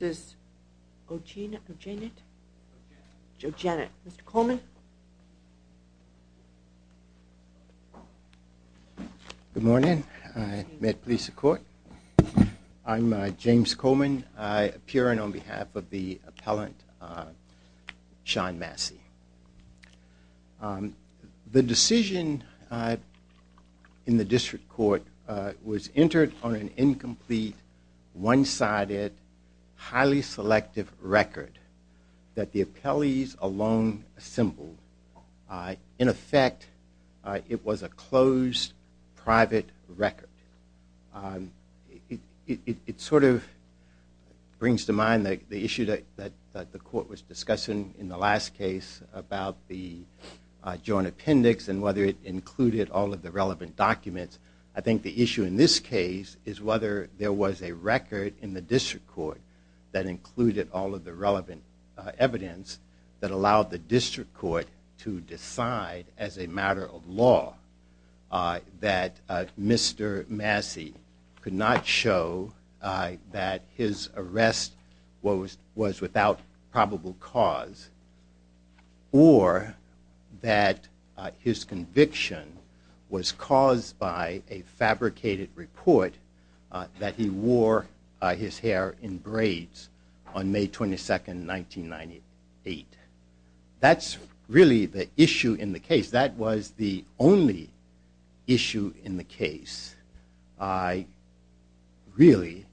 Good morning. I'm James Coleman. I appear on behalf of the appellant Sean Massey. The decision in the district court was entered on an incomplete, one-sided, highly selective record that the appellees alone assembled. In effect, it was a closed, private record. It sort of brings to mind the issue that the court was discussing in the last case about the joint appendix and whether it included all of the relevant documents. I think the issue in this case is whether there was a record in the district court that included all of the relevant evidence that allowed the district court to decide as a matter of law that Mr. Massey could not show that his arrest was without probable cause or that his conviction was caused by a fabricated report that he wore his hair in braids on May 22, 1998. That's really the issue in the case. That was the only issue in the case, really,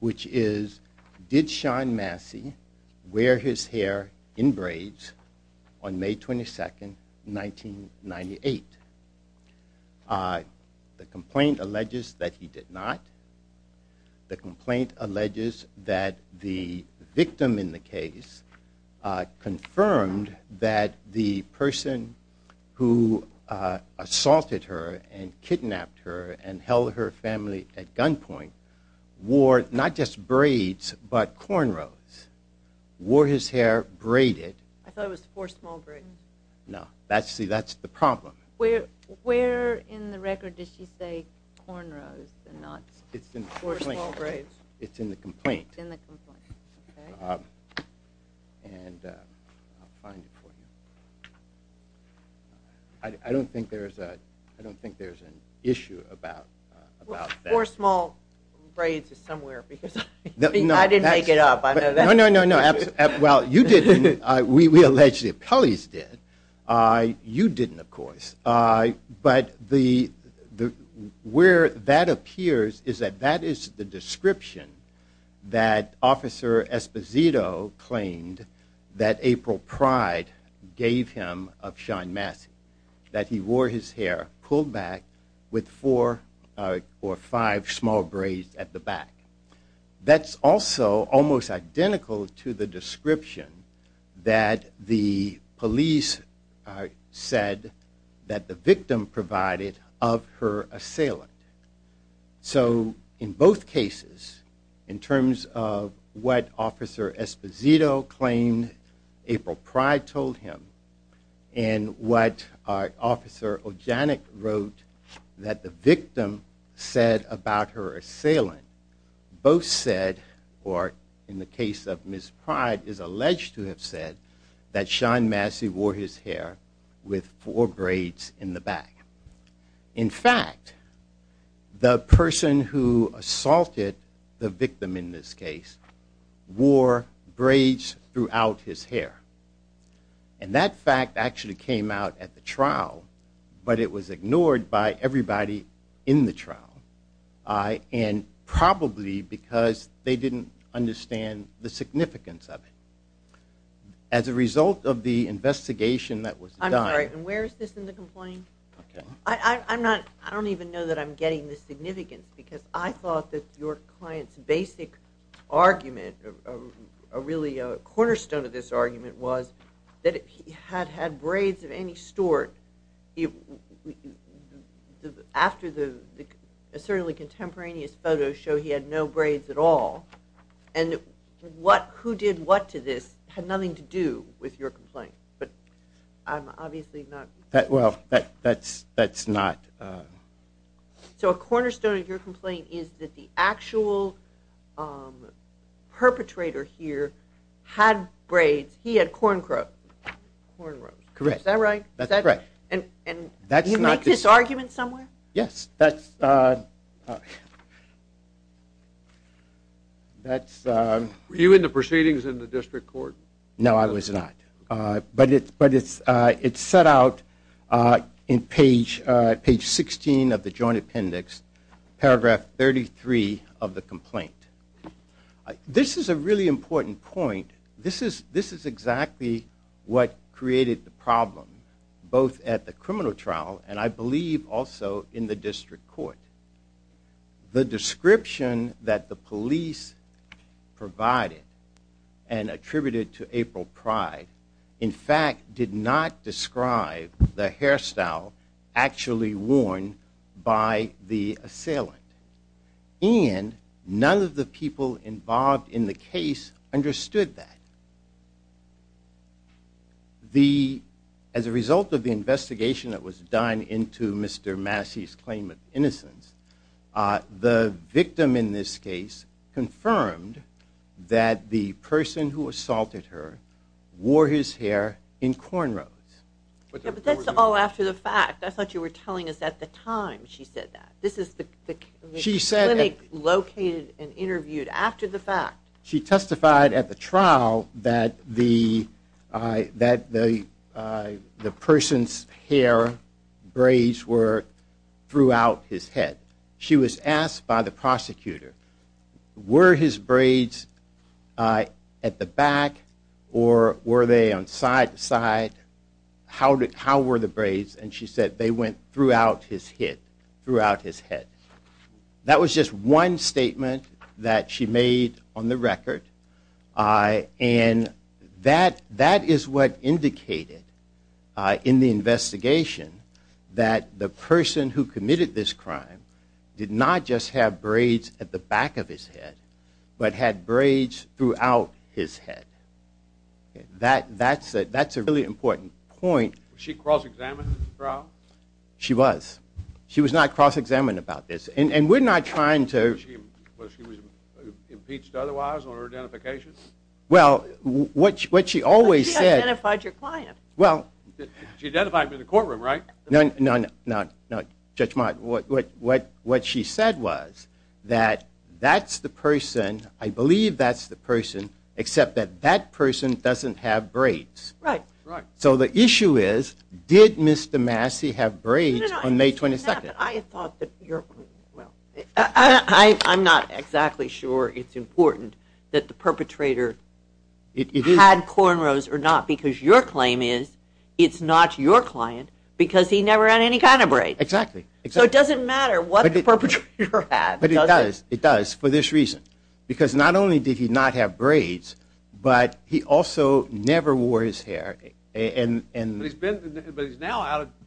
which is did Sean Massey wear his hair in braids on May 22, 1998. The complaint alleges that he did not. The complaint alleges that the victim in the case confirmed that the person who assaulted her and kidnapped her and held her family at gunpoint wore not just braids but cornrows, wore his hair braided. I thought it was four small braids. No. See, that's the problem. Where in the record does she say cornrows and not four small braids? It's in the complaint. I don't think there's an issue about that. Four small braids is somewhere because I didn't make it up. No, no, no. Well, you didn't. We allege the appellees did. You didn't, of course. But where that appears is that that is the description that Officer Esposito claimed that April Pride gave him of Sean Massey, that he wore his hair pulled back with four or five small braids at the back. That's also almost identical to the description that the police said that the victim provided of her assailant. So in both cases, in terms of what Officer Esposito claimed April Pride told him and what Officer Ojanek wrote that the victim said about her assailant, both said or in the case of Ms. Pride is alleged to have said that Sean Massey wore his hair with four braids in the back. In fact, the person who assaulted the victim in this case wore braids throughout his hair. And that fact actually came out at the trial, but it was ignored by everybody in the trial. And probably because they didn't understand the significance of it. As a result of the investigation that was done. And where is this in the complaint? I don't even know that I'm getting the significance because I thought that your client's basic argument, really a cornerstone of this argument, was that he had had braids of any sort after the certainly contemporaneous photos show he had no braids at all. And who did what to this had nothing to do with your complaint, but I'm obviously not... Well, that's not... So a cornerstone of your complaint is that the actual perpetrator here had braids. He had cornrows. Correct. Is that right? That's right. And you make this argument somewhere? Yes, that's... Were you in the proceedings in the district court? No, I was not. But it's set out in page 16 of the joint appendix, paragraph 33 of the complaint. This is a really important point. This is exactly what created the problem both at the criminal trial and I believe also in the district court. The description that the police provided and attributed to April Pride, in fact, did not describe the hairstyle actually worn by the assailant. And none of the people involved in the case understood that. As a result of the investigation that was done into Mr. Massey's claim of innocence, the victim in this case confirmed that the person who assaulted her wore his hair in cornrows. But that's all after the fact. I thought you were telling us at the time she said that. This is the clinic located and interviewed after the fact. She testified at the trial that the person's hair braids were throughout his head. She was asked by the prosecutor, were his braids at the back or were they on side to side? How were the braids? And she said they went throughout his head. That was just one statement that she made on the record. And that is what indicated in the investigation that the person who committed this crime did not just have braids at the back of his head, but had braids throughout his head. That's a really important point. She was. She was not cross-examined about this. And we're not trying to... Was she impeached otherwise on her identification? Well, what she always said... She identified your client. Well... She identified him in the courtroom, right? No, Judge Mott. What she said was that that's the person, I believe that's the person, except that that person doesn't have braids. Right. So the issue is, did Mr. Massey have braids on May 22nd? I thought that your... I'm not exactly sure it's important that the perpetrator had cornrows or not, because your claim is it's not your client because he never had any kind of braids. Exactly. So it doesn't matter what the perpetrator had, does it? It does. It does, for this reason. Because not only did he not have braids, but he also never wore his hair. But he's now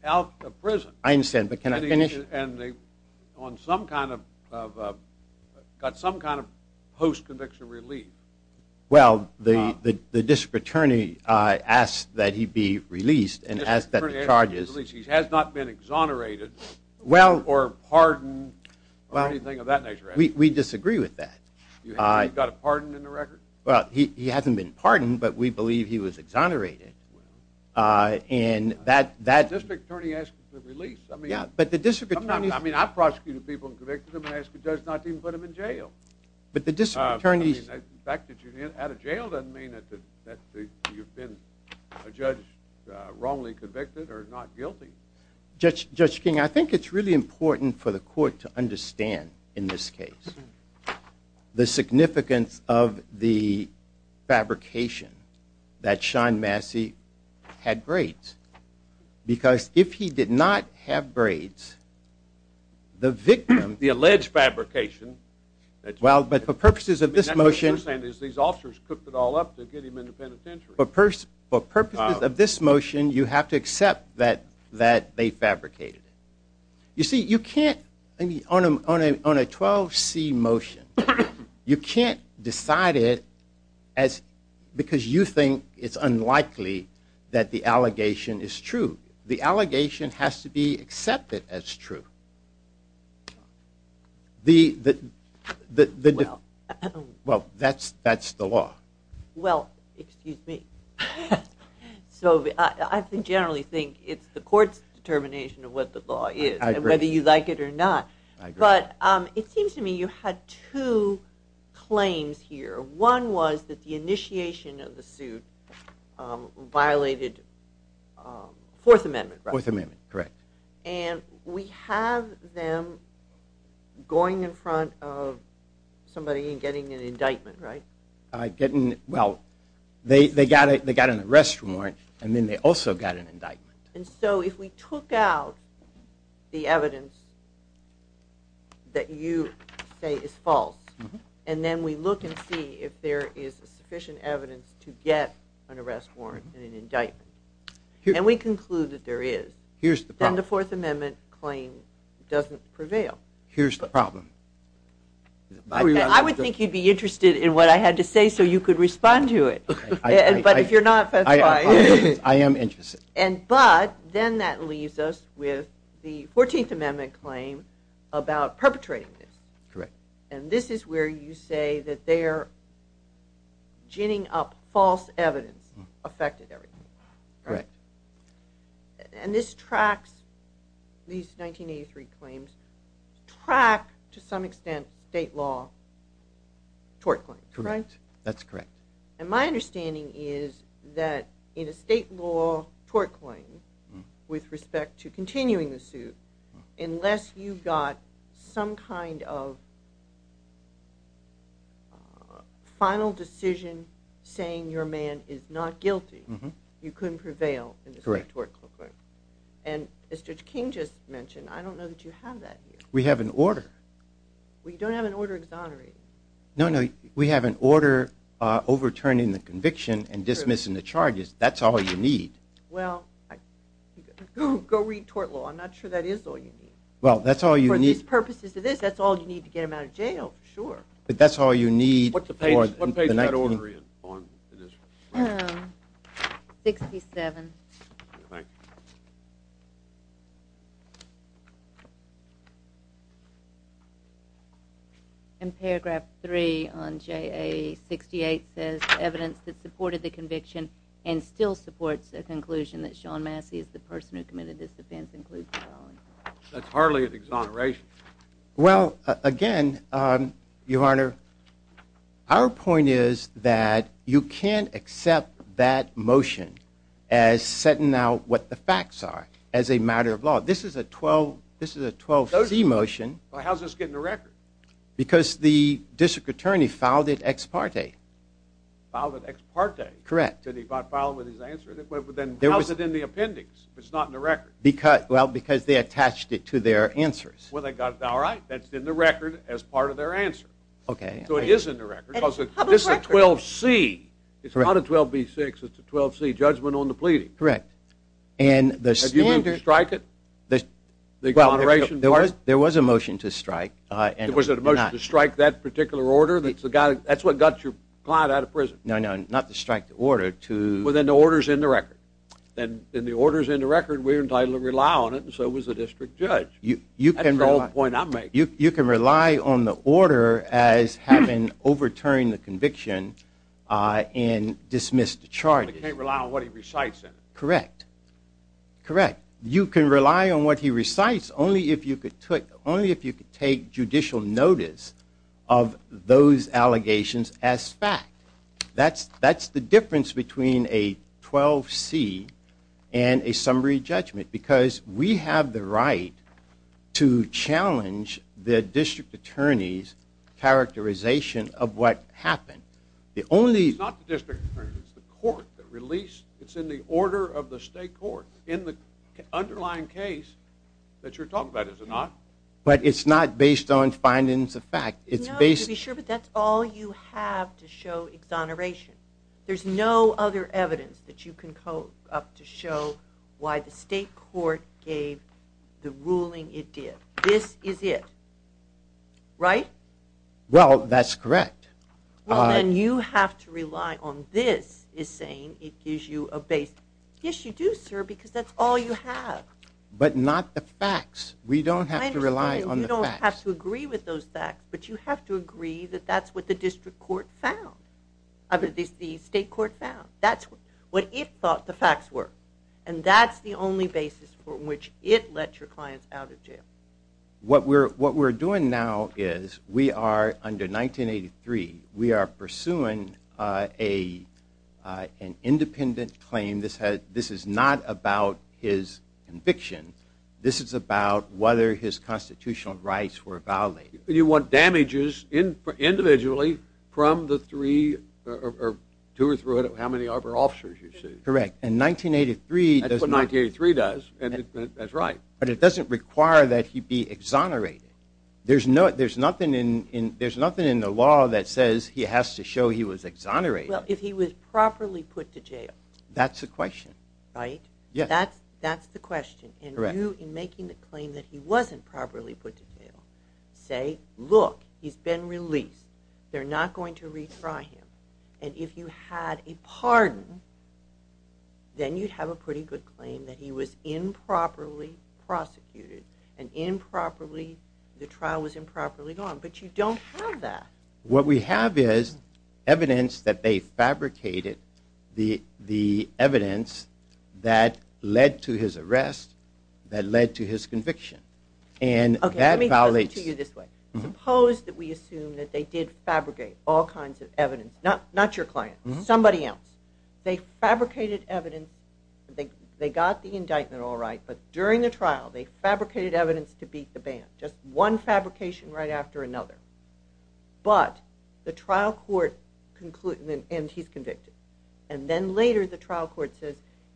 out of prison. I understand, but can I finish? And got some kind of post-conviction relief. Well, the district attorney asked that he be released and asked that the charges... We disagree with that. He got a pardon in the record? Well, he hasn't been pardoned, but we believe he was exonerated. And that... The district attorney asked for the release. Yeah, but the district attorney... I mean, I've prosecuted people and convicted them and asked the judge not to even put them in jail. But the district attorney... The fact that you're out of jail doesn't mean that you've been, a judge, wrongly convicted or not guilty. Judge King, I think it's really important for the court to understand, in this case, the significance of the fabrication that Sean Massey had braids. Because if he did not have braids, the victim... The alleged fabrication... Well, but for purposes of this motion... These officers cooked it all up to get him into penitentiary. For purposes of this motion, you have to accept that they fabricated it. You see, you can't... On a 12C motion, you can't decide it because you think it's unlikely that the allegation is true. The allegation has to be accepted as true. The... Well, that's the law. Well, excuse me. So, I generally think it's the court's determination of what the law is. I agree. And whether you like it or not. I agree. But it seems to me you had two claims here. One was that the initiation of the suit violated Fourth Amendment, right? Fourth Amendment, correct. And we have them going in front of somebody and getting an indictment, right? Well, they got an arrest warrant and then they also got an indictment. And so if we took out the evidence that you say is false and then we look and see if there is sufficient evidence to get an arrest warrant and an indictment and we conclude that there is, then the Fourth Amendment claim doesn't prevail. Here's the problem. I would think you'd be interested in what I had to say so you could respond to it. But if you're not, that's fine. I am interested. But then that leaves us with the Fourteenth Amendment claim about perpetrating this. Correct. And this is where you say that they are ginning up false evidence affected everything. Correct. And this tracks, these 1983 claims, track to some extent state law tort claims, right? Correct. That's correct. And my understanding is that in a state law tort claim with respect to continuing the suit, unless you've got some kind of final decision saying your man is not guilty, you couldn't prevail in the state tort court. Correct. And as Judge King just mentioned, I don't know that you have that here. We have an order. We don't have an order exonerating. No, no, we have an order overturning the conviction and dismissing the charges. That's all you need. Well, go read tort law. I'm not sure that is all you need. Well, that's all you need. For these purposes, it is. That's all you need to get him out of jail, for sure. But that's all you need. What page is that order in on this? 67. Thank you. And paragraph 3 on JA 68 says, Evidence that supported the conviction and still supports the conclusion that Sean Massey is the person who committed this offense includes the following. That's hardly an exoneration. Well, again, Your Honor, our point is that you can't accept that motion as setting out what the facts are as a matter of law. This is a 12C motion. How's this get in the record? Because the district attorney filed it ex parte. Filed it ex parte? Correct. Did he file it with his answer? Then how's it in the appendix if it's not in the record? Well, because they attached it to their answers. Well, they got it all right. That's in the record as part of their answer. Okay. So it is in the record. This is a 12C. It's not a 12B6. It's a 12C judgment on the pleading. Correct. Have you been to strike it? The exoneration part? There was a motion to strike. Was it a motion to strike that particular order? That's what got your client out of prison. No, no, not to strike the order. Well, then the order's in the record. And the order's in the record. We're entitled to rely on it, and so was the district judge. That's the whole point I'm making. You can rely on the order as having overturned the conviction and dismissed the charges. But you can't rely on what he recites in it. Correct. Correct. You can rely on what he recites only if you could take judicial notice of those allegations as fact. That's the difference between a 12C and a summary judgment, because we have the right to challenge the district attorney's characterization of what happened. It's not the district attorney. It's the court that released. It's in the order of the state court in the underlying case that you're talking about, is it not? But it's not based on findings of fact. No, to be sure, but that's all you have to show exoneration. There's no other evidence that you can come up to show why the state court gave the ruling it did. This is it, right? Well, that's correct. Well, then you have to rely on this is saying it gives you a base. Yes, you do, sir, because that's all you have. But not the facts. We don't have to rely on the facts. You don't have to agree with those facts, but you have to agree that that's what the state court found. That's what it thought the facts were, and that's the only basis for which it let your clients out of jail. What we're doing now is we are, under 1983, we are pursuing an independent claim. This is not about his conviction. This is about whether his constitutional rights were violated. You want damages individually from the three or two or three, how many of our officers you see. Correct. That's what 1983 does, and that's right. But it doesn't require that he be exonerated. There's nothing in the law that says he has to show he was exonerated. Well, if he was properly put to jail. That's the question. Right? Yes. That's the question. Correct. And you, in making the claim that he wasn't properly put to jail, say, look, he's been released. They're not going to retry him. And if you had a pardon, then you'd have a pretty good claim that he was improperly prosecuted and improperly, the trial was improperly gone. But you don't have that. What we have is evidence that they fabricated the evidence that led to his arrest, that led to his conviction. Okay, let me tell you this way. Suppose that we assume that they did fabricate all kinds of evidence. Not your client. Somebody else. They fabricated evidence. They got the indictment all right, but during the trial, they fabricated evidence to beat the band. Just one fabrication right after another. But the trial court, and he's convicted, and then later the trial court says,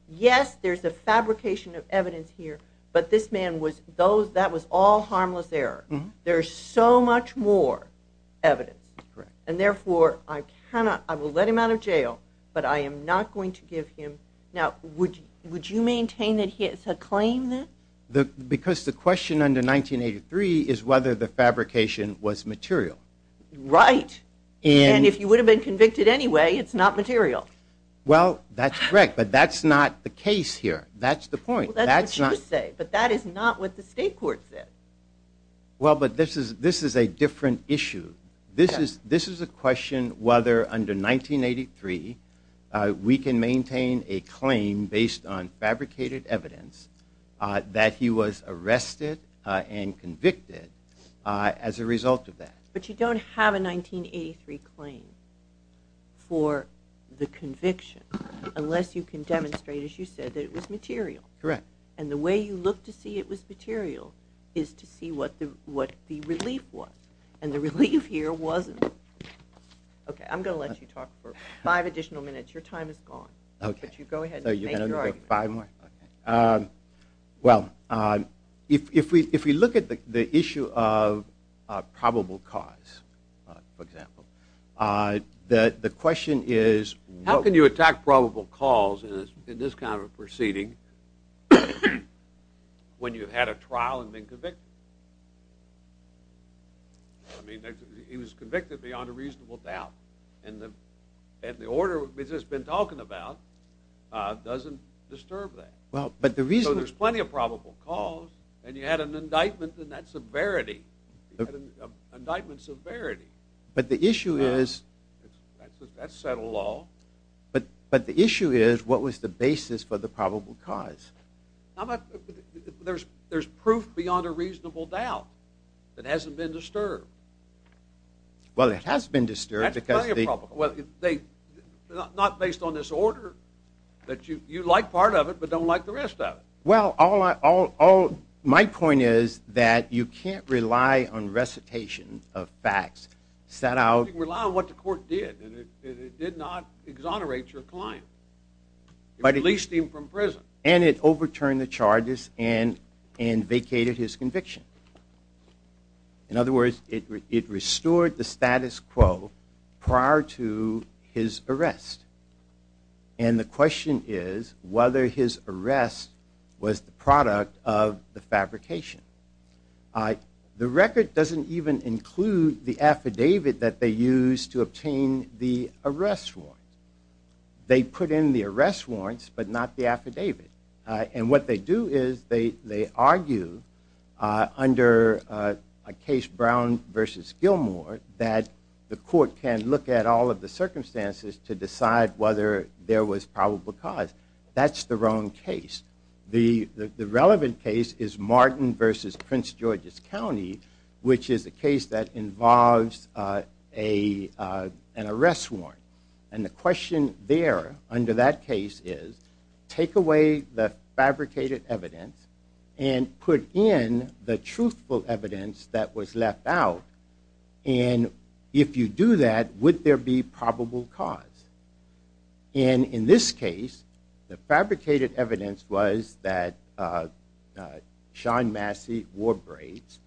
yes, there's a fabrication of evidence here, but this man was, that was all harmless error. There's so much more evidence. Correct. And therefore, I cannot, I will let him out of jail, but I am not going to give him, now, would you maintain that he has a claim then? Because the question under 1983 is whether the fabrication was material. Right. And if you would have been convicted anyway, it's not material. Well, that's correct, but that's not the case here. That's the point. That's what you say, but that is not what the state court said. Well, but this is a different issue. This is a question whether under 1983 we can maintain a claim based on fabricated evidence that he was arrested and convicted as a result of that. But you don't have a 1983 claim for the conviction unless you can demonstrate, as you said, that it was material. Correct. And the way you look to see it was material is to see what the relief was. And the relief here wasn't. Okay, I'm going to let you talk for five additional minutes. Your time is gone. Okay. But you go ahead and make your argument. Five more? Okay. Well, if we look at the issue of probable cause, for example, the question is what… I mean, he was convicted beyond a reasonable doubt. And the order we've just been talking about doesn't disturb that. Well, but the reason… So there's plenty of probable cause, and you had an indictment in that severity. You had an indictment severity. But the issue is… That's settled law. But the issue is what was the basis for the probable cause? There's proof beyond a reasonable doubt that hasn't been disturbed. Well, it has been disturbed because… That's plenty of probable cause. Well, not based on this order that you like part of it but don't like the rest of it. Well, my point is that you can't rely on recitation of facts set out… You can rely on what the court did, and it did not exonerate your client. It released him from prison. And it overturned the charges and vacated his conviction. In other words, it restored the status quo prior to his arrest. And the question is whether his arrest was the product of the fabrication. The record doesn't even include the affidavit that they used to obtain the arrest warrant. They put in the arrest warrants but not the affidavit. And what they do is they argue under a case, Brown v. Gilmore, that the court can look at all of the circumstances to decide whether there was probable cause. That's the wrong case. The relevant case is Martin v. Prince George's County, which is a case that involves an arrest warrant. And the question there under that case is, take away the fabricated evidence and put in the truthful evidence that was left out. And if you do that, would there be probable cause? And in this case, the fabricated evidence was that Sean Massey wore braids.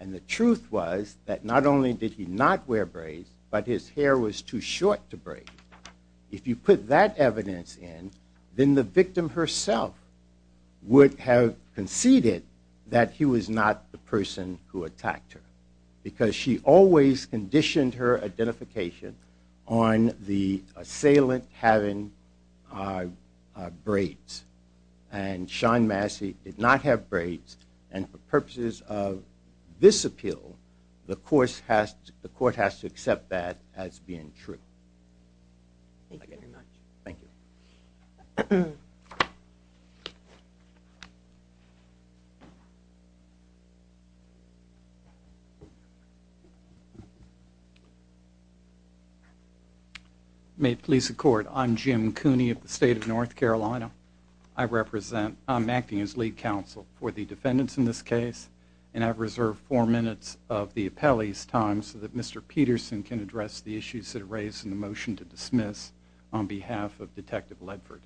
And the truth was that not only did he not wear braids, but his hair was too short to braid. If you put that evidence in, then the victim herself would have conceded that he was not the person who attacked her. Because she always conditioned her identification on the assailant having braids. And Sean Massey did not have braids. And for purposes of this appeal, the court has to accept that as being true. Thank you very much. Thank you. May it please the court. I'm Jim Cooney of the state of North Carolina. I'm acting as lead counsel for the defendants in this case, and I've reserved four minutes of the appellee's time so that Mr. Peterson can address the issues that are raised in the motion to dismiss on behalf of Detective Ledford.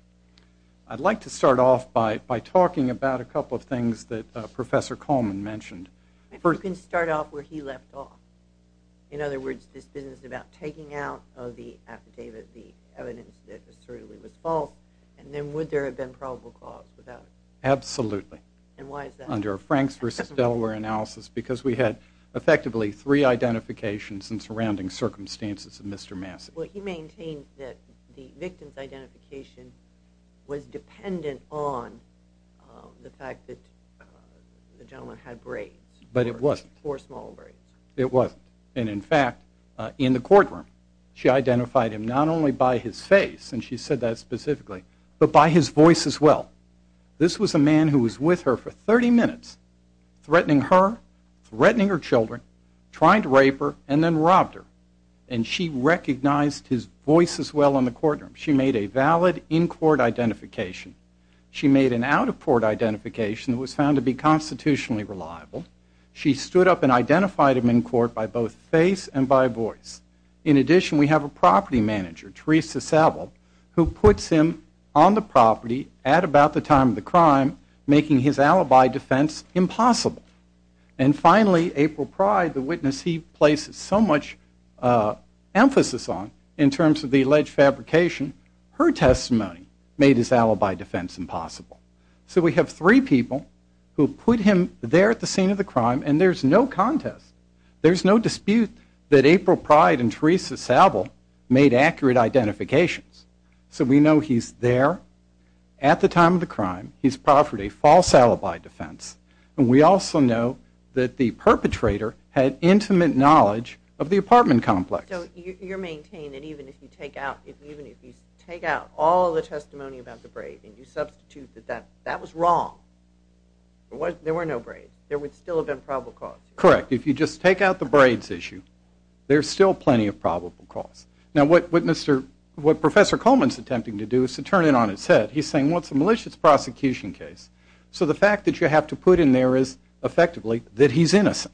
I'd like to start off by talking about a couple of things that Professor Coleman mentioned. You can start off where he left off. In other words, this business is about taking out of the affidavit the evidence that it certainly was false, and then would there have been probable cause without it? Absolutely. And why is that? Because we had effectively three identifications in surrounding circumstances of Mr. Massey. Well, he maintained that the victim's identification was dependent on the fact that the gentleman had braids. But it wasn't. Four small braids. It wasn't. And, in fact, in the courtroom she identified him not only by his face, and she said that specifically, but by his voice as well. This was a man who was with her for 30 minutes, threatening her, threatening her children, trying to rape her, and then robbed her. And she recognized his voice as well in the courtroom. She made a valid in-court identification. She made an out-of-court identification that was found to be constitutionally reliable. She stood up and identified him in court by both face and by voice. In addition, we have a property manager, Teresa Saville, who puts him on the property at about the time of the crime, making his alibi defense impossible. And, finally, April Pryde, the witness he places so much emphasis on in terms of the alleged fabrication, her testimony made his alibi defense impossible. So we have three people who put him there at the scene of the crime, and there's no contest. There's no dispute that April Pryde and Teresa Saville made accurate identifications. So we know he's there at the time of the crime. He's proffered a false alibi defense. And we also know that the perpetrator had intimate knowledge of the apartment complex. So you're maintaining that even if you take out all the testimony about the braid and you substitute that that was wrong, there were no braids, there would still have been probable cause? Correct. If you just take out the braids issue, there's still plenty of probable cause. Now, what Professor Coleman's attempting to do is to turn it on its head. He's saying, well, it's a malicious prosecution case. So the fact that you have to put in there is, effectively, that he's innocent.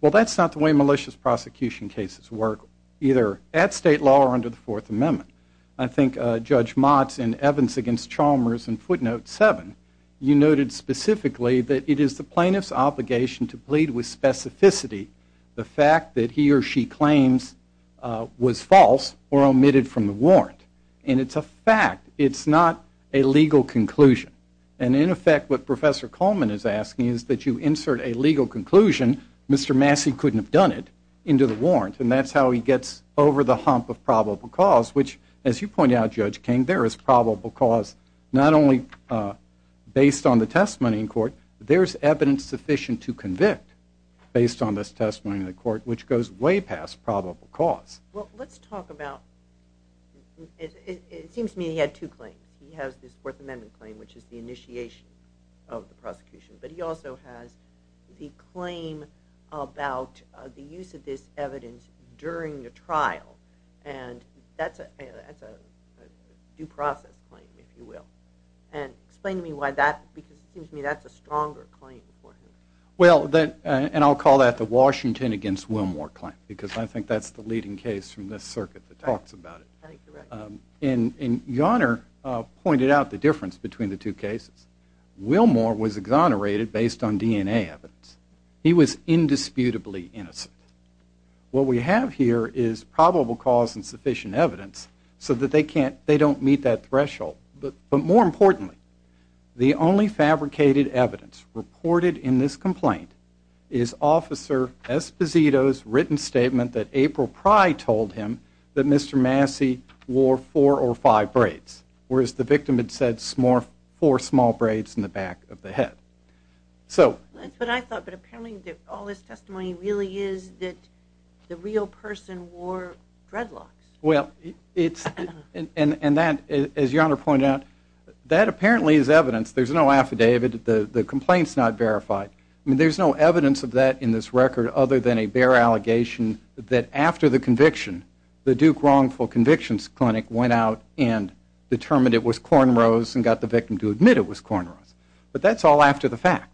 Well, that's not the way malicious prosecution cases work, either at state law or under the Fourth Amendment. I think Judge Motz in Evans v. Chalmers in footnote 7, you noted specifically that it is the plaintiff's obligation to plead with specificity the fact that he or she claims was false or omitted from the warrant. And it's a fact. It's not a legal conclusion. And, in effect, what Professor Coleman is asking is that you insert a legal conclusion, Mr. Massey couldn't have done it, into the warrant. And that's how he gets over the hump of probable cause, which, as you point out, Judge King, there is probable cause not only based on the testimony in court, there's evidence sufficient to convict based on this testimony in the court, which goes way past probable cause. Well, let's talk about, it seems to me he had two claims. He has this Fourth Amendment claim, which is the initiation of the prosecution. But he also has the claim about the use of this evidence during the trial. And that's a due process claim, if you will. And explain to me why that, because it seems to me that's a stronger claim for him. Well, and I'll call that the Washington against Wilmore claim, because I think that's the leading case from this circuit that talks about it. I think you're right. And Yonner pointed out the difference between the two cases. Wilmore was exonerated based on DNA evidence. He was indisputably innocent. What we have here is probable cause and sufficient evidence so that they don't meet that threshold. But more importantly, the only fabricated evidence reported in this complaint is Officer Esposito's written statement that April Pry told him that Mr. Massey wore four or five braids, whereas the victim had said four small braids in the back of the head. That's what I thought, but apparently all this testimony really is that the real person wore dreadlocks. Well, and as Yonner pointed out, that apparently is evidence. There's no affidavit. The complaint's not verified. I mean, there's no evidence of that in this record other than a bare allegation that after the conviction, the Duke Wrongful Convictions Clinic went out and determined it was cornrows and got the victim to admit it was cornrows. But that's all after the fact.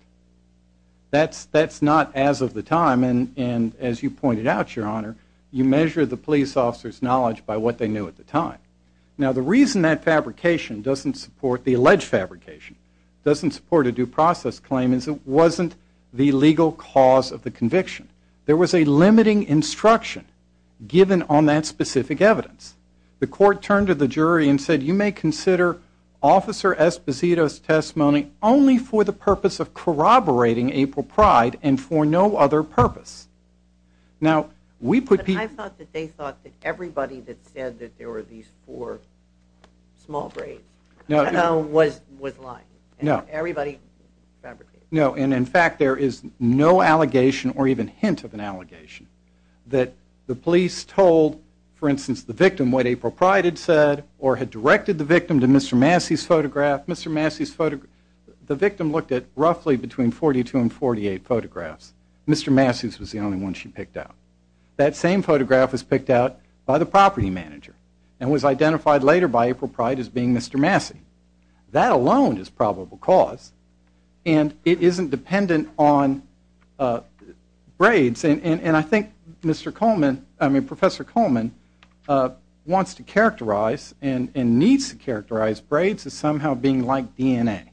That's not as of the time, and as you pointed out, Your Honor, you measure the police officer's knowledge by what they knew at the time. Now, the reason that fabrication doesn't support the alleged fabrication, doesn't support a due process claim, is it wasn't the legal cause of the conviction. There was a limiting instruction given on that specific evidence. The court turned to the jury and said, you may consider Officer Esposito's testimony only for the purpose of corroborating April Pride and for no other purpose. I thought that they thought that everybody that said that there were these four small braids was lying. No. Everybody fabricated. No, and in fact, there is no allegation or even hint of an allegation that the police told, for instance, the victim what April Pride had said or had directed the victim to Mr. Massey's photograph. The victim looked at roughly between 42 and 48 photographs. Mr. Massey's was the only one she picked out. That same photograph was picked out by the property manager and was identified later by April Pride as being Mr. Massey. That alone is probable cause, and it isn't dependent on braids. And I think Professor Coleman wants to characterize and needs to characterize braids as somehow being like DNA.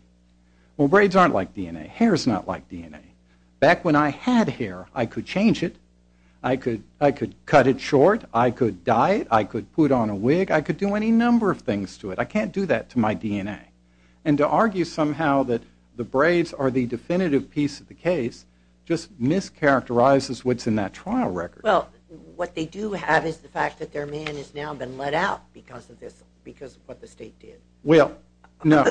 Well, braids aren't like DNA. Hair is not like DNA. Back when I had hair, I could change it. I could cut it short. I could dye it. I could put on a wig. I could do any number of things to it. I can't do that to my DNA. And to argue somehow that the braids are the definitive piece of the case just mischaracterizes what's in that trial record. Well, what they do have is the fact that their man has now been let out because of this, because of what the state did. Well, no,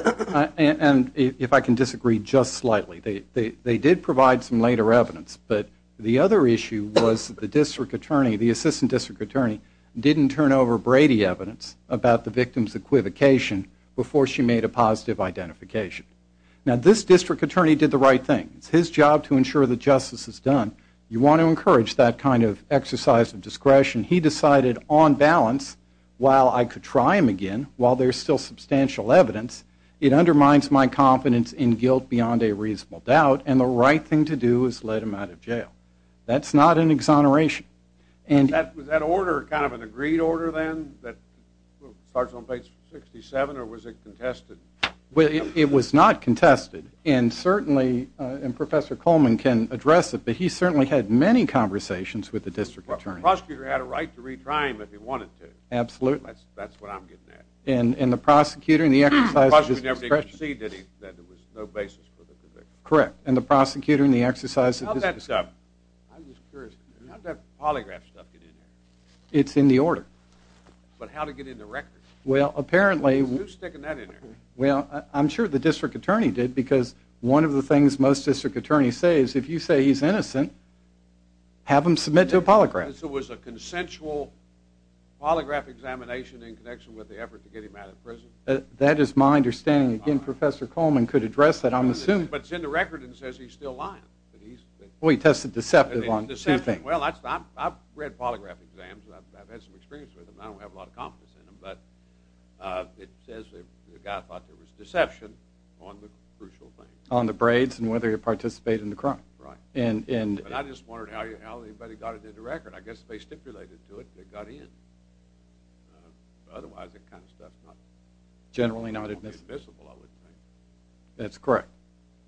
and if I can disagree just slightly, they did provide some later evidence, but the other issue was the district attorney, the assistant district attorney, didn't turn over Brady evidence about the victim's equivocation before she made a positive identification. Now, this district attorney did the right thing. It's his job to ensure that justice is done. You want to encourage that kind of exercise of discretion. He decided on balance, while I could try him again, while there's still substantial evidence, it undermines my confidence in guilt beyond a reasonable doubt, and the right thing to do is let him out of jail. That's not an exoneration. Was that order kind of an agreed order then that starts on page 67, or was it contested? It was not contested. And certainly, and Professor Coleman can address it, but he certainly had many conversations with the district attorney. The prosecutor had a right to retry him if he wanted to. Absolutely. That's what I'm getting at. And the prosecutor in the exercise of discretion. The prosecutor never did concede that there was no basis for the conviction. Correct, and the prosecutor in the exercise of discretion. How did that polygraph stuff get in there? It's in the order. But how did it get in the records? Who's sticking that in there? Well, I'm sure the district attorney did, because one of the things most district attorneys say is, if you say he's innocent, have him submit to a polygraph. So it was a consensual polygraph examination in connection with the effort to get him out of prison? That is my understanding. Again, Professor Coleman could address that, I'm assuming. But it's in the record, and it says he's still lying. Well, he tested deceptive on two things. Well, I've read polygraph exams, and I've had some experience with them, and I don't have a lot of confidence in them, but it says the guy thought there was deception on the crucial thing. On the braids and whether he participated in the crime. Right. And I just wondered how anybody got it in the record. I guess they stipulated to it that it got in. Otherwise, that kind of stuff is not admissible, I would think. That's correct.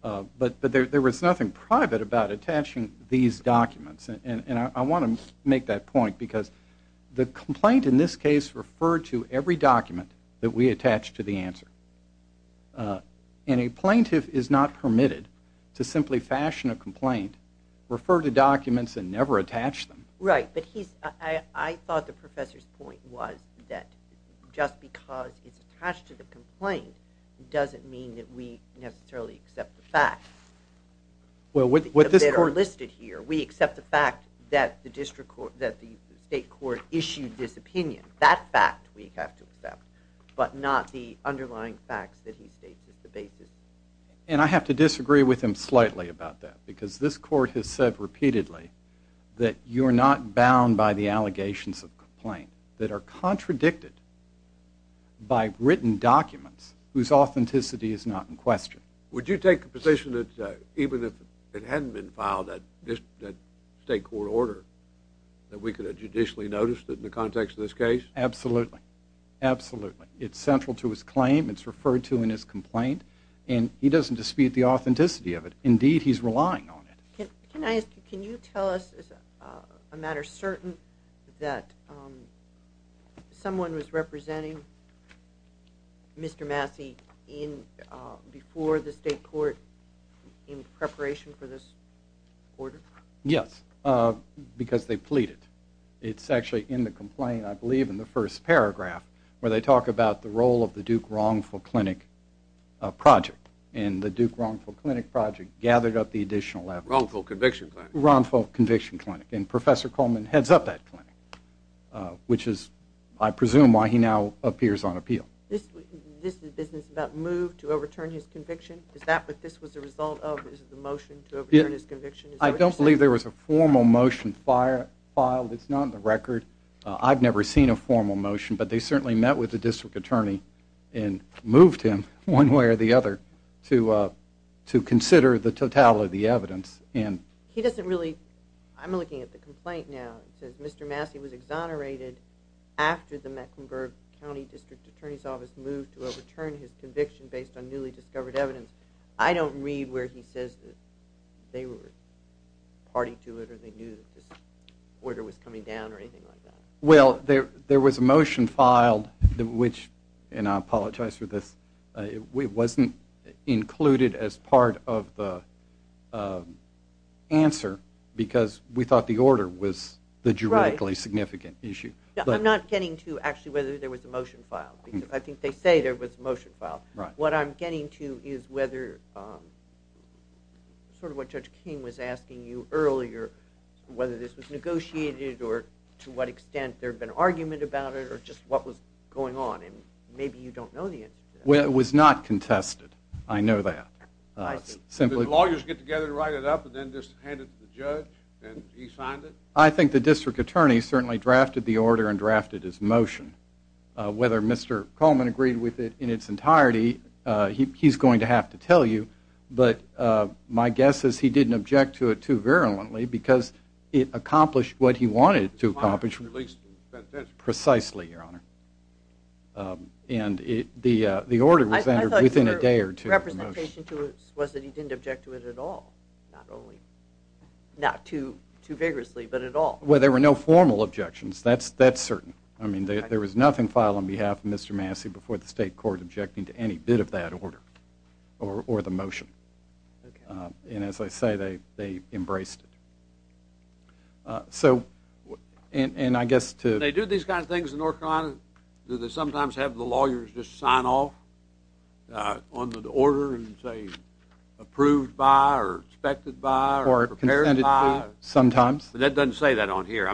But there was nothing private about attaching these documents. And I want to make that point, because the complaint in this case referred to every document that we attached to the answer. And a plaintiff is not permitted to simply fashion a complaint, refer to documents, and never attach them. Right, but I thought the professor's point was that just because it's attached to the complaint doesn't mean that we necessarily accept the facts that are listed here. We accept the fact that the state court issued this opinion. That fact we have to accept, but not the underlying facts that he states as the basis. And I have to disagree with him slightly about that, because this court has said repeatedly that you're not bound by the allegations of complaint that are contradicted by written documents whose authenticity is not in question. Would you take the position that even if it hadn't been filed, that state court order, that we could have judicially noticed it in the context of this case? Absolutely. Absolutely. It's central to his claim, it's referred to in his complaint, and he doesn't dispute the authenticity of it. Indeed, he's relying on it. Can you tell us a matter certain that someone was representing Mr. Massey before the state court in preparation for this order? Yes, because they pleaded. It's actually in the complaint, I believe, in the first paragraph, where they talk about the role of the Duke Wrongful Clinic project. And the Duke Wrongful Clinic project gathered up the additional evidence. Wrongful Conviction Clinic. Wrongful Conviction Clinic. And Professor Coleman heads up that clinic, which is, I presume, why he now appears on appeal. This business about move to overturn his conviction, is that what this was a result of, the motion to overturn his conviction? I don't believe there was a formal motion filed. It's not on the record. I've never seen a formal motion, but they certainly met with the district attorney and moved him one way or the other to consider the totality of the evidence. He doesn't really, I'm looking at the complaint now, it says Mr. Massey was exonerated after the Mecklenburg County District Attorney's Office moved to overturn his conviction based on newly discovered evidence. I don't read where he says that they were party to it or they knew that this order was coming down or anything like that. Well, there was a motion filed, which, and I apologize for this, it wasn't included as part of the answer because we thought the order was the juridically significant issue. I'm not getting to actually whether there was a motion filed, because I think they say there was a motion filed. What I'm getting to is whether, sort of what Judge King was asking you earlier, whether this was negotiated or to what extent there had been argument about it or just what was going on, and maybe you don't know the answer to that. It was not contested, I know that. Did the lawyers get together to write it up and then just hand it to the judge and he signed it? I think the district attorney certainly drafted the order and drafted his motion. Whether Mr. Coleman agreed with it in its entirety, he's going to have to tell you, but my guess is he didn't object to it too virulently and the order was entered within a day or two. I thought your representation to it was that he didn't object to it at all, not too vigorously, but at all. Well, there were no formal objections, that's certain. I mean, there was nothing filed on behalf of Mr. Massey before the state court objecting to any bit of that order or the motion. And as I say, they embraced it. And I guess to— They do these kind of things in North Carolina. Do they sometimes have the lawyers just sign off on the order and say approved by or expected by or prepared by? Or consented to, sometimes. But that doesn't say that on here.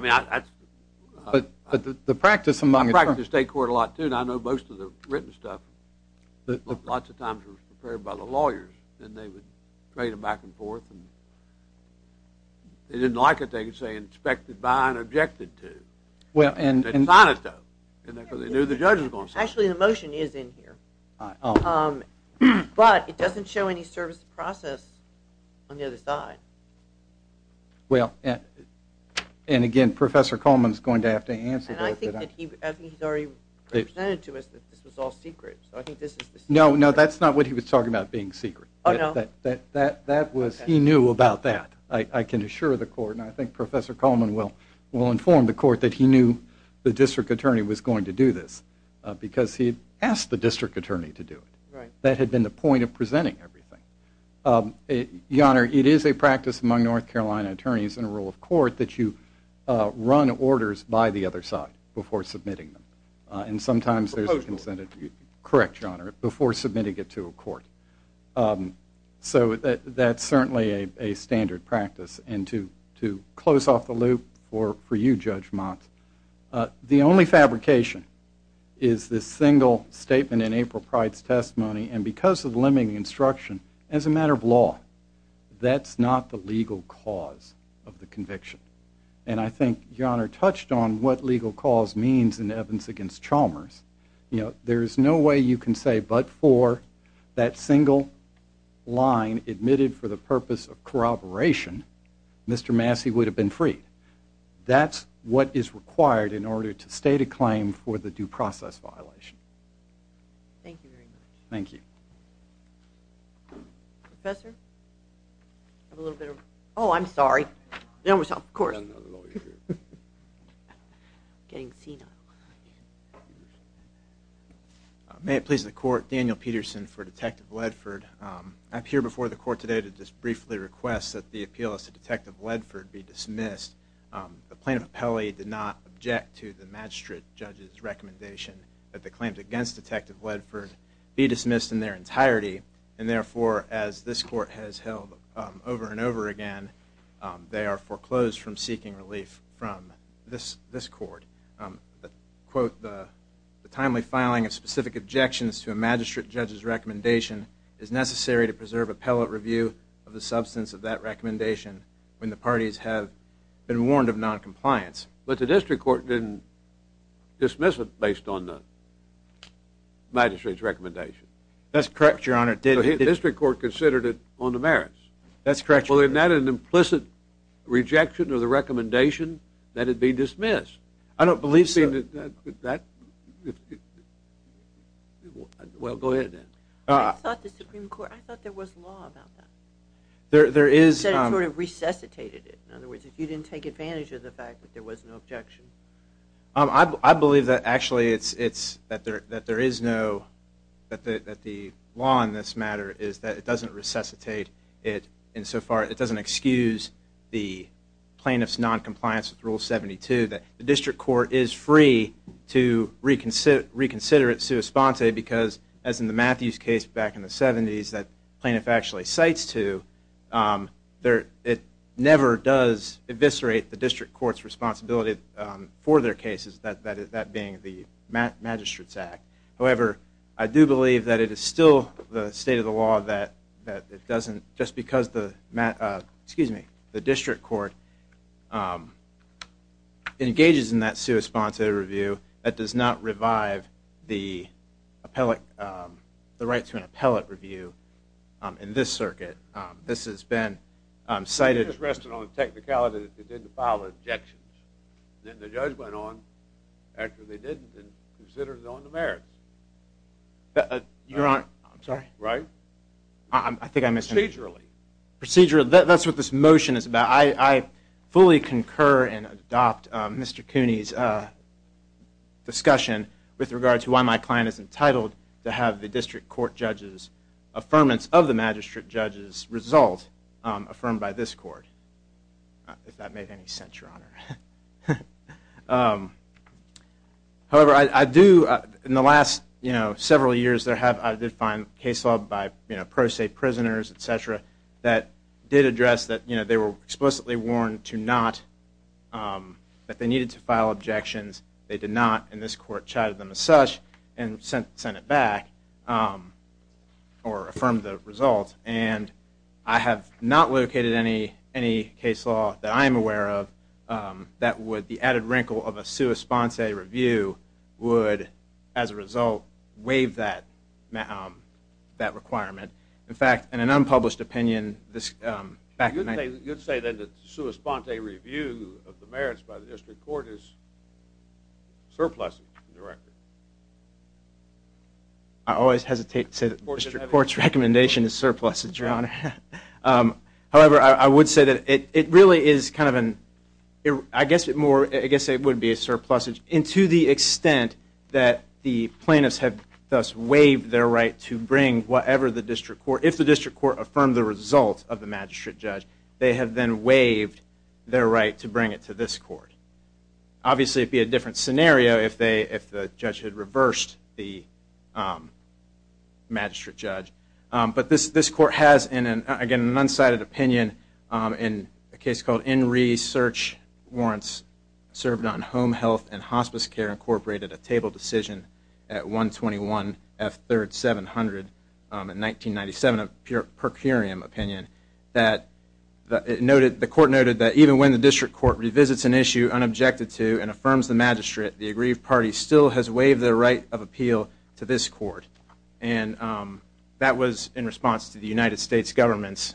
But the practice among— I practice the state court a lot, too, and I know most of the written stuff lots of times was prepared by the lawyers, and they would trade them back and forth. They didn't like it. They would say expected by and objected to. They'd sign it, though, because they knew the judge was going to sign it. Actually, the motion is in here. But it doesn't show any service process on the other side. Well, and again, Professor Coleman is going to have to answer this. And I think he's already presented to us that this was all secret, so I think this is the secret. No, no, that's not what he was talking about being secret. Oh, no? He knew about that, I can assure the court. And I think Professor Coleman will inform the court that he knew the district attorney was going to do this because he asked the district attorney to do it. Right. That had been the point of presenting everything. Your Honor, it is a practice among North Carolina attorneys in a rule of court that you run orders by the other side before submitting them. And sometimes there's a— Proposed order. Correct, Your Honor, before submitting it to a court. So that's certainly a standard practice. And to close off the loop for you, Judge Mott, the only fabrication is this single statement in April Pride's testimony. And because of the limiting instruction, as a matter of law, that's not the legal cause of the conviction. And I think Your Honor touched on what legal cause means in evidence against Chalmers. You know, there's no way you can say but for that single line admitted for the purpose of corroboration, Mr. Massey would have been freed. That's what is required in order to state a claim for the due process violation. Thank you very much. Thank you. Professor? Oh, I'm sorry. Of course. I'm not a lawyer. I'm getting senile. May it please the court, Daniel Peterson for Detective Ledford. I'm here before the court today to just briefly request that the appeal as to Detective Ledford be dismissed. The plaintiff appellee did not object to the magistrate judge's recommendation that the claims against Detective Ledford be dismissed in their entirety. And therefore, as this court has held over and over again, they are foreclosed from seeking relief from this court. Quote, the timely filing of specific objections to a magistrate judge's recommendation is necessary to preserve appellate review of the substance of that recommendation when the parties have been warned of noncompliance. But the district court didn't dismiss it based on the magistrate's recommendation. That's correct, Your Honor. That's correct, Your Honor. Well, isn't that an implicit rejection of the recommendation that it be dismissed? I don't believe so. Well, go ahead, then. I thought the Supreme Court, I thought there was law about that. There is. You said it sort of resuscitated it. In other words, if you didn't take advantage of the fact that there was no objection. I believe that actually it's that there is no, that the law in this matter is that it doesn't resuscitate it insofar, it doesn't excuse the plaintiff's noncompliance with Rule 72, that the district court is free to reconsider it sua sponte because as in the Matthews case back in the 70s that the plaintiff actually cites to, it never does eviscerate the district court's responsibility for their cases, that being the Magistrate's Act. However, I do believe that it is still the state of the law that it doesn't, just because the district court engages in that sua sponte review, that does not revive the right to an appellate review in this circuit. This has been cited. It just rested on the technicality that they didn't file objections. Then the judge went on after they didn't and considered it on the merits. Your Honor, I'm sorry. Right? I think I missed something. Procedurally. Procedurally, that's what this motion is about. I fully concur and adopt Mr. Cooney's discussion with regard to why my client is entitled to have the district court judge's affirmance of the magistrate judge's result affirmed by this court, if that made any sense, Your Honor. However, in the last several years, I did find case law by pro se prisoners, et cetera, that did address that they were explicitly warned that they needed to file objections. They did not, and this court chided them as such and sent it back or affirmed the result. And I have not located any case law that I am aware of that would, the added wrinkle of a sua sponte review would, as a result, waive that requirement. In fact, in an unpublished opinion back in 19- You'd say then that sua sponte review of the merits by the district court is surplus, Your Honor. I always hesitate to say that the district court's recommendation is surplus, Your Honor. However, I would say that it really is kind of an, I guess it would be a surplus, and to the extent that the plaintiffs have thus waived their right to bring whatever the district court, if the district court affirmed the result of the magistrate judge, they have then waived their right to bring it to this court. Obviously, it would be a different scenario if they, if the judge had reversed the magistrate judge. But this court has, again, an unsighted opinion in a case called Enree Search Warrants Served on Home Health and Hospice Care Incorporated, a table decision at 121 F 3rd 700 in 1997, a per curiam opinion, that the court noted that even when the district court revisits an issue unobjected to and affirms the magistrate, the aggrieved party still has waived their right of appeal to this court. And that was in response to the United States government's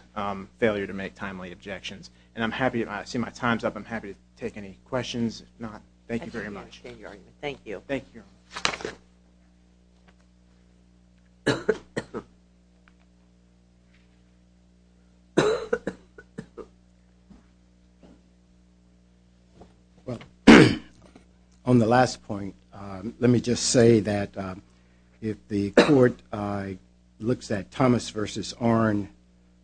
failure to make timely objections. And I'm happy, I see my time's up, I'm happy to take any questions. Thank you. Thank you, Your Honor. Well, on the last point, let me just say that if the court looks at Thomas v. Arnn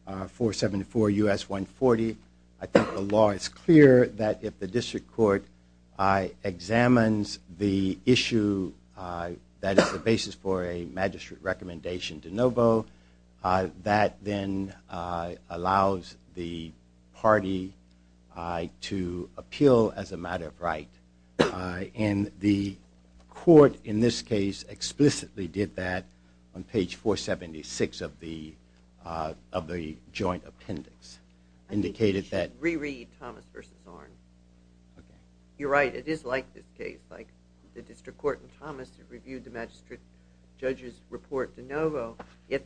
474 U.S. 140, I think the law is clear that if the district court examines the issue that is then allows the party to appeal as a matter of right. And the court, in this case, explicitly did that on page 476 of the joint appendix, indicated that- I think you should re-read Thomas v. Arnn. Okay. You're right, it is like this case, like the district court in Thomas reviewed the magistrate judge's report de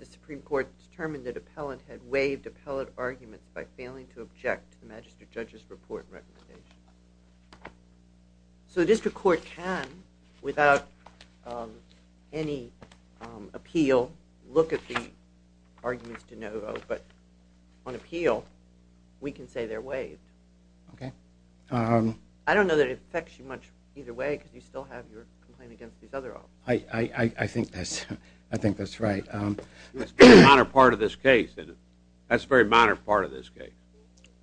Supreme Court determined that appellant had waived appellant arguments by failing to object to the magistrate judge's report recommendation. So the district court can, without any appeal, look at the arguments de novo, but on appeal, we can say they're waived. Okay. I don't know that it affects you much either way, because you still have your complaint against these other options. I think that's right. It's a minor part of this case. That's a very minor part of this case.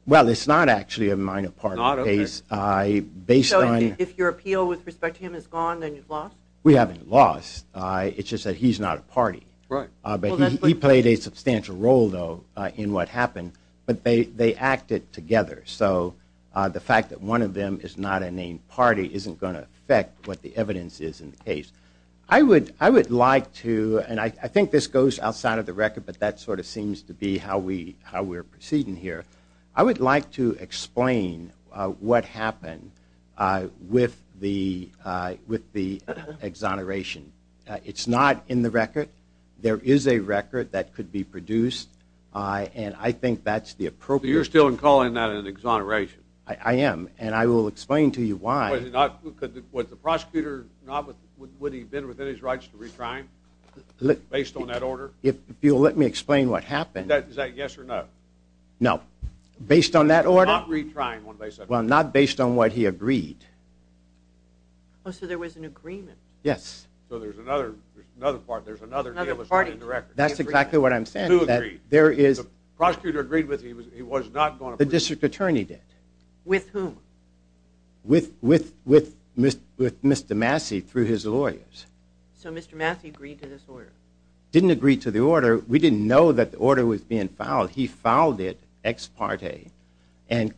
Well, it's not actually a minor part of the case. So if your appeal with respect to him is gone, then you've lost? We haven't lost. It's just that he's not a party. Right. But he played a substantial role, though, in what happened. But they acted together. So the fact that one of them is not a named party isn't going to affect what the evidence is in the case. I would like to, and I think this goes outside of the record, but that sort of seems to be how we're proceeding here. I would like to explain what happened with the exoneration. It's not in the record. There is a record that could be produced, and I think that's the appropriate. So you're still calling that an exoneration? I am, and I will explain to you why. Was the prosecutor, would he have been within his rights to retry him, based on that order? If you'll let me explain what happened. Is that a yes or no? No. Based on that order? Not retrying, one might say. Well, not based on what he agreed. Oh, so there was an agreement. Yes. So there's another deal that's not in the record. That's exactly what I'm saying. To agree. The prosecutor agreed with him. The district attorney did. With whom? With Mr. Massey through his lawyers. So Mr. Massey agreed to this order? Didn't agree to the order. We didn't know that the order was being filed. He filed it ex parte and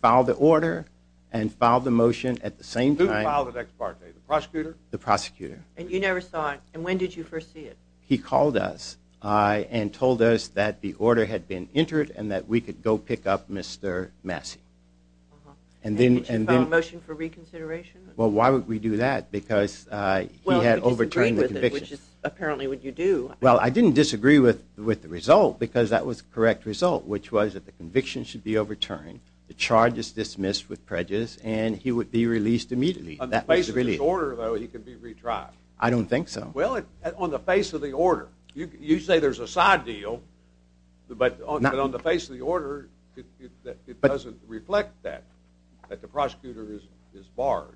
filed the order and filed the motion at the same time. Who filed it ex parte? The prosecutor? The prosecutor. And you never saw it? And when did you first see it? He called us and told us that the order had been entered and that we could go pick up Mr. Massey. And did you file a motion for reconsideration? Well, why would we do that? Because he had overturned the conviction. Well, you disagreed with it, which apparently would you do. Well, I didn't disagree with the result because that was the correct result, which was that the conviction should be overturned, the charge is dismissed with prejudice, and he would be released immediately. On the face of this order, though, he could be retried. I don't think so. Well, on the face of the order. You say there's a side deal, but on the face of the order, it doesn't reflect that, that the prosecutor is barred.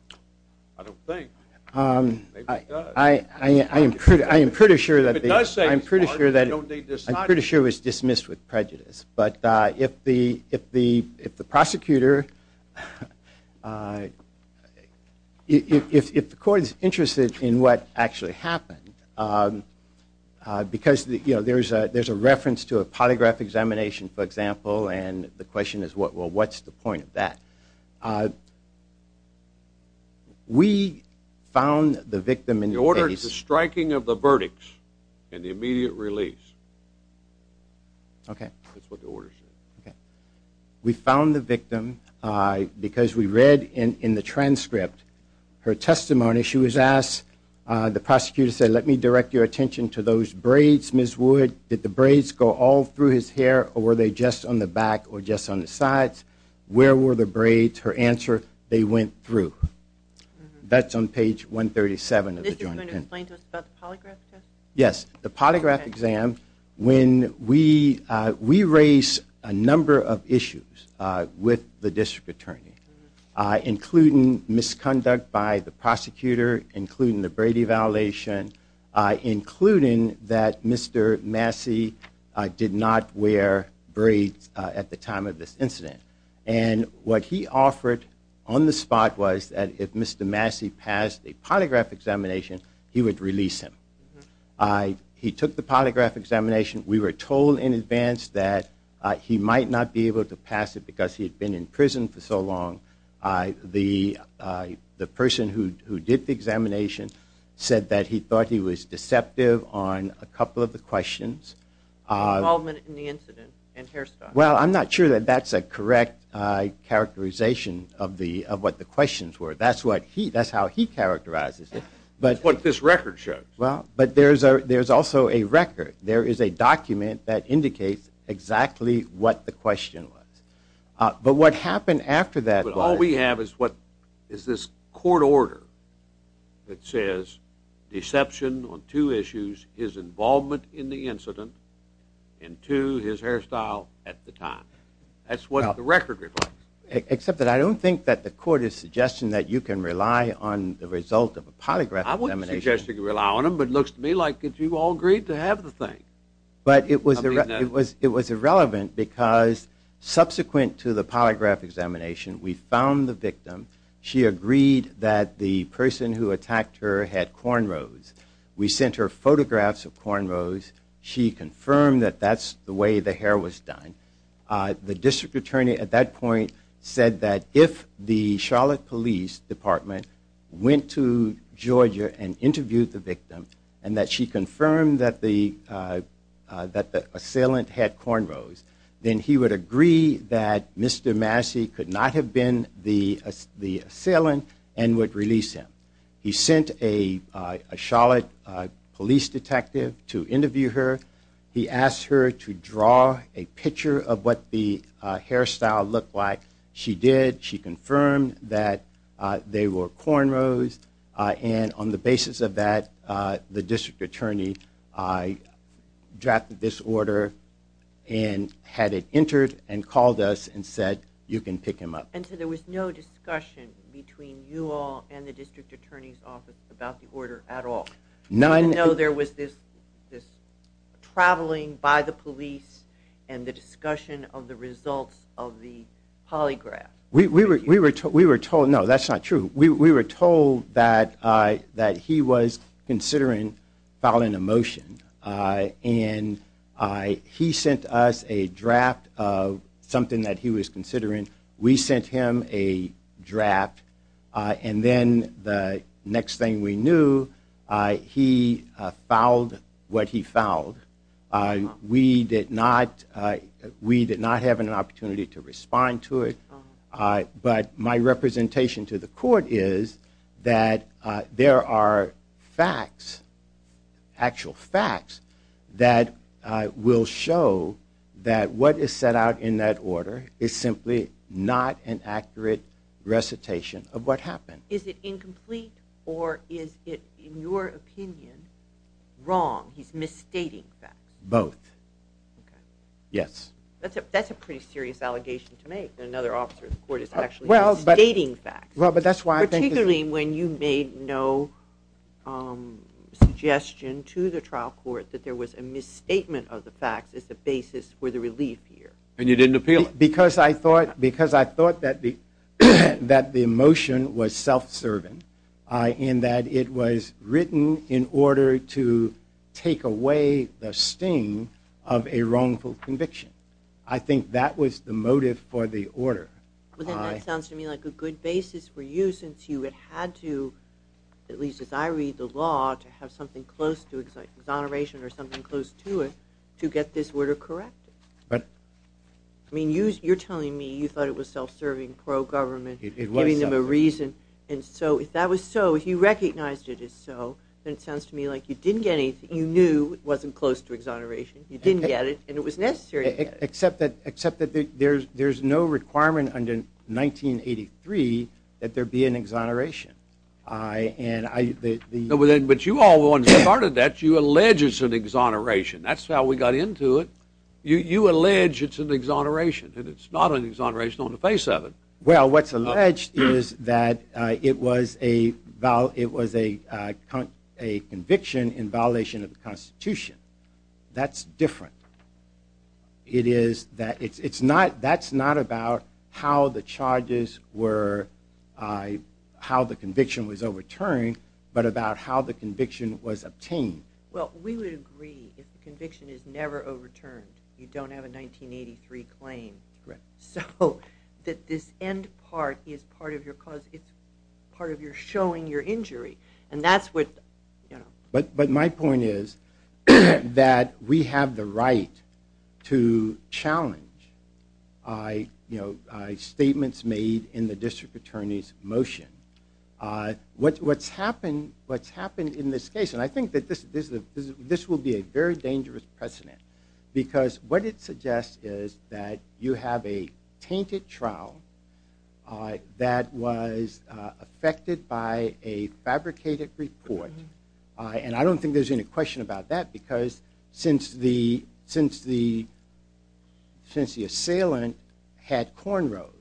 I don't think. Maybe it does. I am pretty sure that it was dismissed with prejudice. But if the prosecutor, if the court is interested in what actually happened, because there's a reference to a polygraph examination, for example, and the question is, well, what's the point of that? We found the victim in the case. The order is the striking of the verdict and the immediate release. Okay. That's what the order says. Okay. We found the victim because we read in the transcript her testimony. When an issue is asked, the prosecutor said, let me direct your attention to those braids, Ms. Wood. Did the braids go all through his hair, or were they just on the back or just on the sides? Where were the braids? Her answer, they went through. That's on page 137 of the joint pen. This is going to explain to us about the polygraph test? Yes. The polygraph exam, when we raise a number of issues with the district attorney, including misconduct by the prosecutor, including the braiding violation, including that Mr. Massey did not wear braids at the time of this incident. What he offered on the spot was that if Mr. Massey passed a polygraph examination, he would release him. He took the polygraph examination. We were told in advance that he might not be able to pass it because he had been in prison for so long. The person who did the examination said that he thought he was deceptive on a couple of the questions. Involvement in the incident and hairstyles. Well, I'm not sure that that's a correct characterization of what the questions were. That's how he characterizes it. That's what this record shows. Well, but there's also a record. There is a document that indicates exactly what the question was. But what happened after that was. But all we have is this court order that says deception on two issues, his involvement in the incident, and two, his hairstyle at the time. That's what the record reflects. Except that I don't think that the court is suggesting that you can rely on the result of a polygraph examination. It looks to me like if you all agreed to have the thing. But it was irrelevant because subsequent to the polygraph examination, we found the victim. She agreed that the person who attacked her had cornrows. We sent her photographs of cornrows. She confirmed that that's the way the hair was done. The district attorney at that point said that if the Charlotte Police Department went to Georgia and interviewed the victim and that she confirmed that the assailant had cornrows, then he would agree that Mr. Massey could not have been the assailant and would release him. He sent a Charlotte Police detective to interview her. He asked her to draw a picture of what the hairstyle looked like. She did. She confirmed that they were cornrows. And on the basis of that, the district attorney drafted this order and had it entered and called us and said, you can pick him up. And so there was no discussion between you all and the district attorney's office about the order at all? None. Even though there was this traveling by the police and the discussion of the results of the polygraph? No, that's not true. We were told that he was considering filing a motion, and he sent us a draft of something that he was considering. We sent him a draft. And then the next thing we knew, he filed what he filed. We did not have an opportunity to respond to it. But my representation to the court is that there are facts, actual facts, that will show that what is set out in that order is simply not an accurate recitation of what happened. Is it incomplete or is it, in your opinion, wrong? He's misstating facts. Both. Yes. That's a pretty serious allegation to make, that another officer of the court is actually misstating facts. Particularly when you made no suggestion to the trial court that there was a misstatement of the facts as the basis for the relief here. And you didn't appeal it. Because I thought that the motion was self-serving in that it was written in order to take away the sting of a wrongful conviction. I think that was the motive for the order. Well, then that sounds to me like a good basis for you, since you had had to, at least as I read the law, to have something close to exoneration or something close to it to get this order corrected. I mean, you're telling me you thought it was self-serving, pro-government, giving them a reason. And so if that was so, if you recognized it as so, then it sounds to me like you didn't get anything. You knew it wasn't close to exoneration. You didn't get it, and it was necessary to get it. Except that there's no requirement under 1983 that there be an exoneration. But you all, the ones that started that, you allege it's an exoneration. That's how we got into it. You allege it's an exoneration, and it's not an exoneration on the face of it. Well, what's alleged is that it was a conviction in violation of the Constitution. That's different. That's not about how the charges were, how the conviction was overturned, but about how the conviction was obtained. Well, we would agree if the conviction is never overturned, you don't have a 1983 claim. Correct. So that this end part is part of your cause. It's part of your showing your injury, and that's what, you know. But my point is that we have the right to challenge, you know, statements made in the district attorney's motion. What's happened in this case, and I think that this will be a very dangerous precedent because what it suggests is that you have a tainted trial that was affected by a fabricated report, and I don't think there's any question about that because since the assailant had cornrows,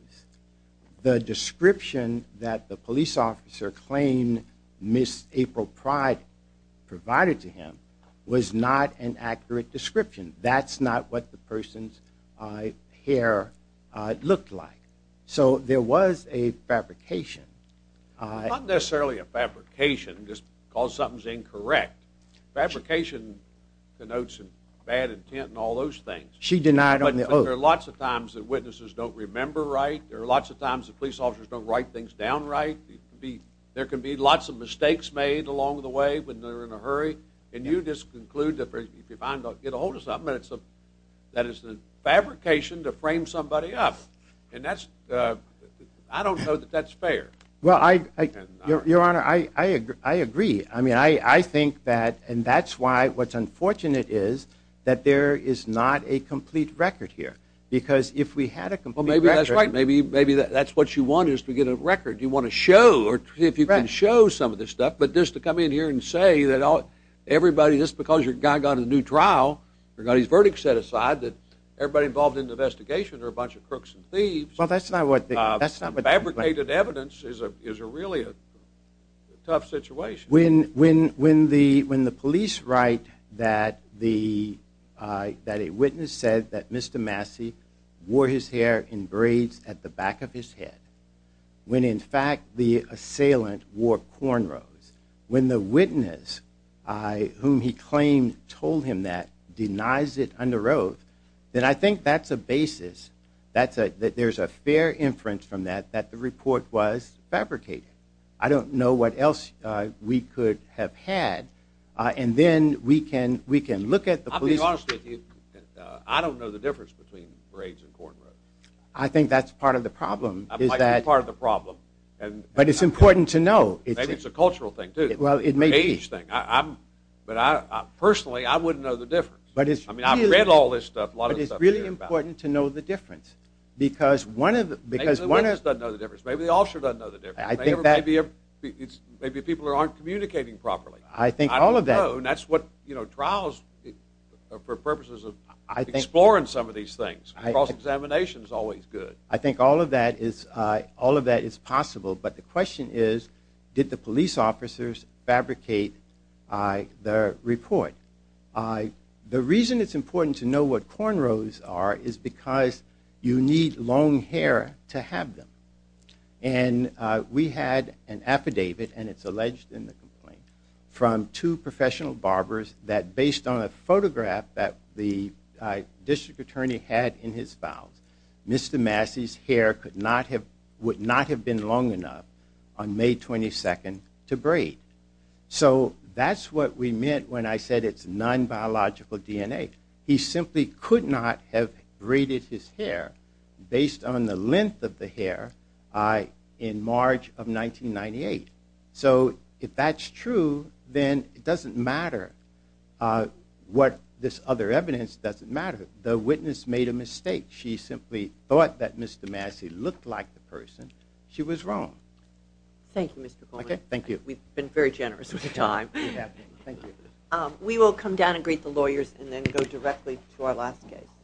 the description that the police officer claimed Ms. April Pride provided to him was not an accurate description. That's not what the person's hair looked like. So there was a fabrication. Not necessarily a fabrication, just because something's incorrect. Fabrication denotes bad intent and all those things. She denied on the oath. There are lots of times that witnesses don't remember right. There are lots of times that police officers don't write things down right. There can be lots of mistakes made along the way when they're in a hurry, and you just conclude that if you find out, get a hold of something. That is the fabrication to frame somebody up, and I don't know that that's fair. Well, Your Honor, I agree. I mean, I think that, and that's why what's unfortunate is that there is not a complete record here because if we had a complete record. Well, maybe that's right. Maybe that's what you want is to get a record. You want to show or see if you can show some of this stuff, but just to come in here and say that everybody, just because your guy got a new trial or got his verdict set aside that everybody involved in the investigation are a bunch of crooks and thieves. Well, that's not what. Fabricated evidence is really a tough situation. When the police write that a witness said that Mr. Massey wore his hair in braids at the back of his head, when, in fact, the assailant wore cornrows, when the witness whom he claimed told him that denies it under oath, then I think that's a basis that there's a fair inference from that that the report was fabricated. I don't know what else we could have had. And then we can look at the police. I'll be honest with you. I don't know the difference between braids and cornrows. I think that's part of the problem is that. It might be part of the problem. But it's important to know. Maybe it's a cultural thing, too. Well, it may be. An age thing. But personally, I wouldn't know the difference. I mean, I've read all this stuff, a lot of stuff to hear about. But it's really important to know the difference because one of the... Maybe the witness doesn't know the difference. Maybe the officer doesn't know the difference. I think that... Maybe people aren't communicating properly. I think all of that. I don't know. And that's what trials, for purposes of exploring some of these things, cross-examination is always good. I think all of that is possible. But the question is, did the police officers fabricate the report? The reason it's important to know what cornrows are is because you need long hair to have them. And we had an affidavit, and it's alleged in the complaint, from two professional barbers that based on a photograph that the district attorney had in his files, Mr. Massey's hair would not have been long enough on May 22nd to braid. So that's what we meant when I said it's non-biological DNA. He simply could not have braided his hair based on the length of the hair in March of 1998. So if that's true, then it doesn't matter what this other evidence doesn't matter. The witness made a mistake. She simply thought that Mr. Massey looked like the person. She was wrong. Thank you, Mr. Coleman. Okay, thank you. We've been very generous with your time. You have been. Thank you. We will come down and greet the lawyers and then go directly to our last case.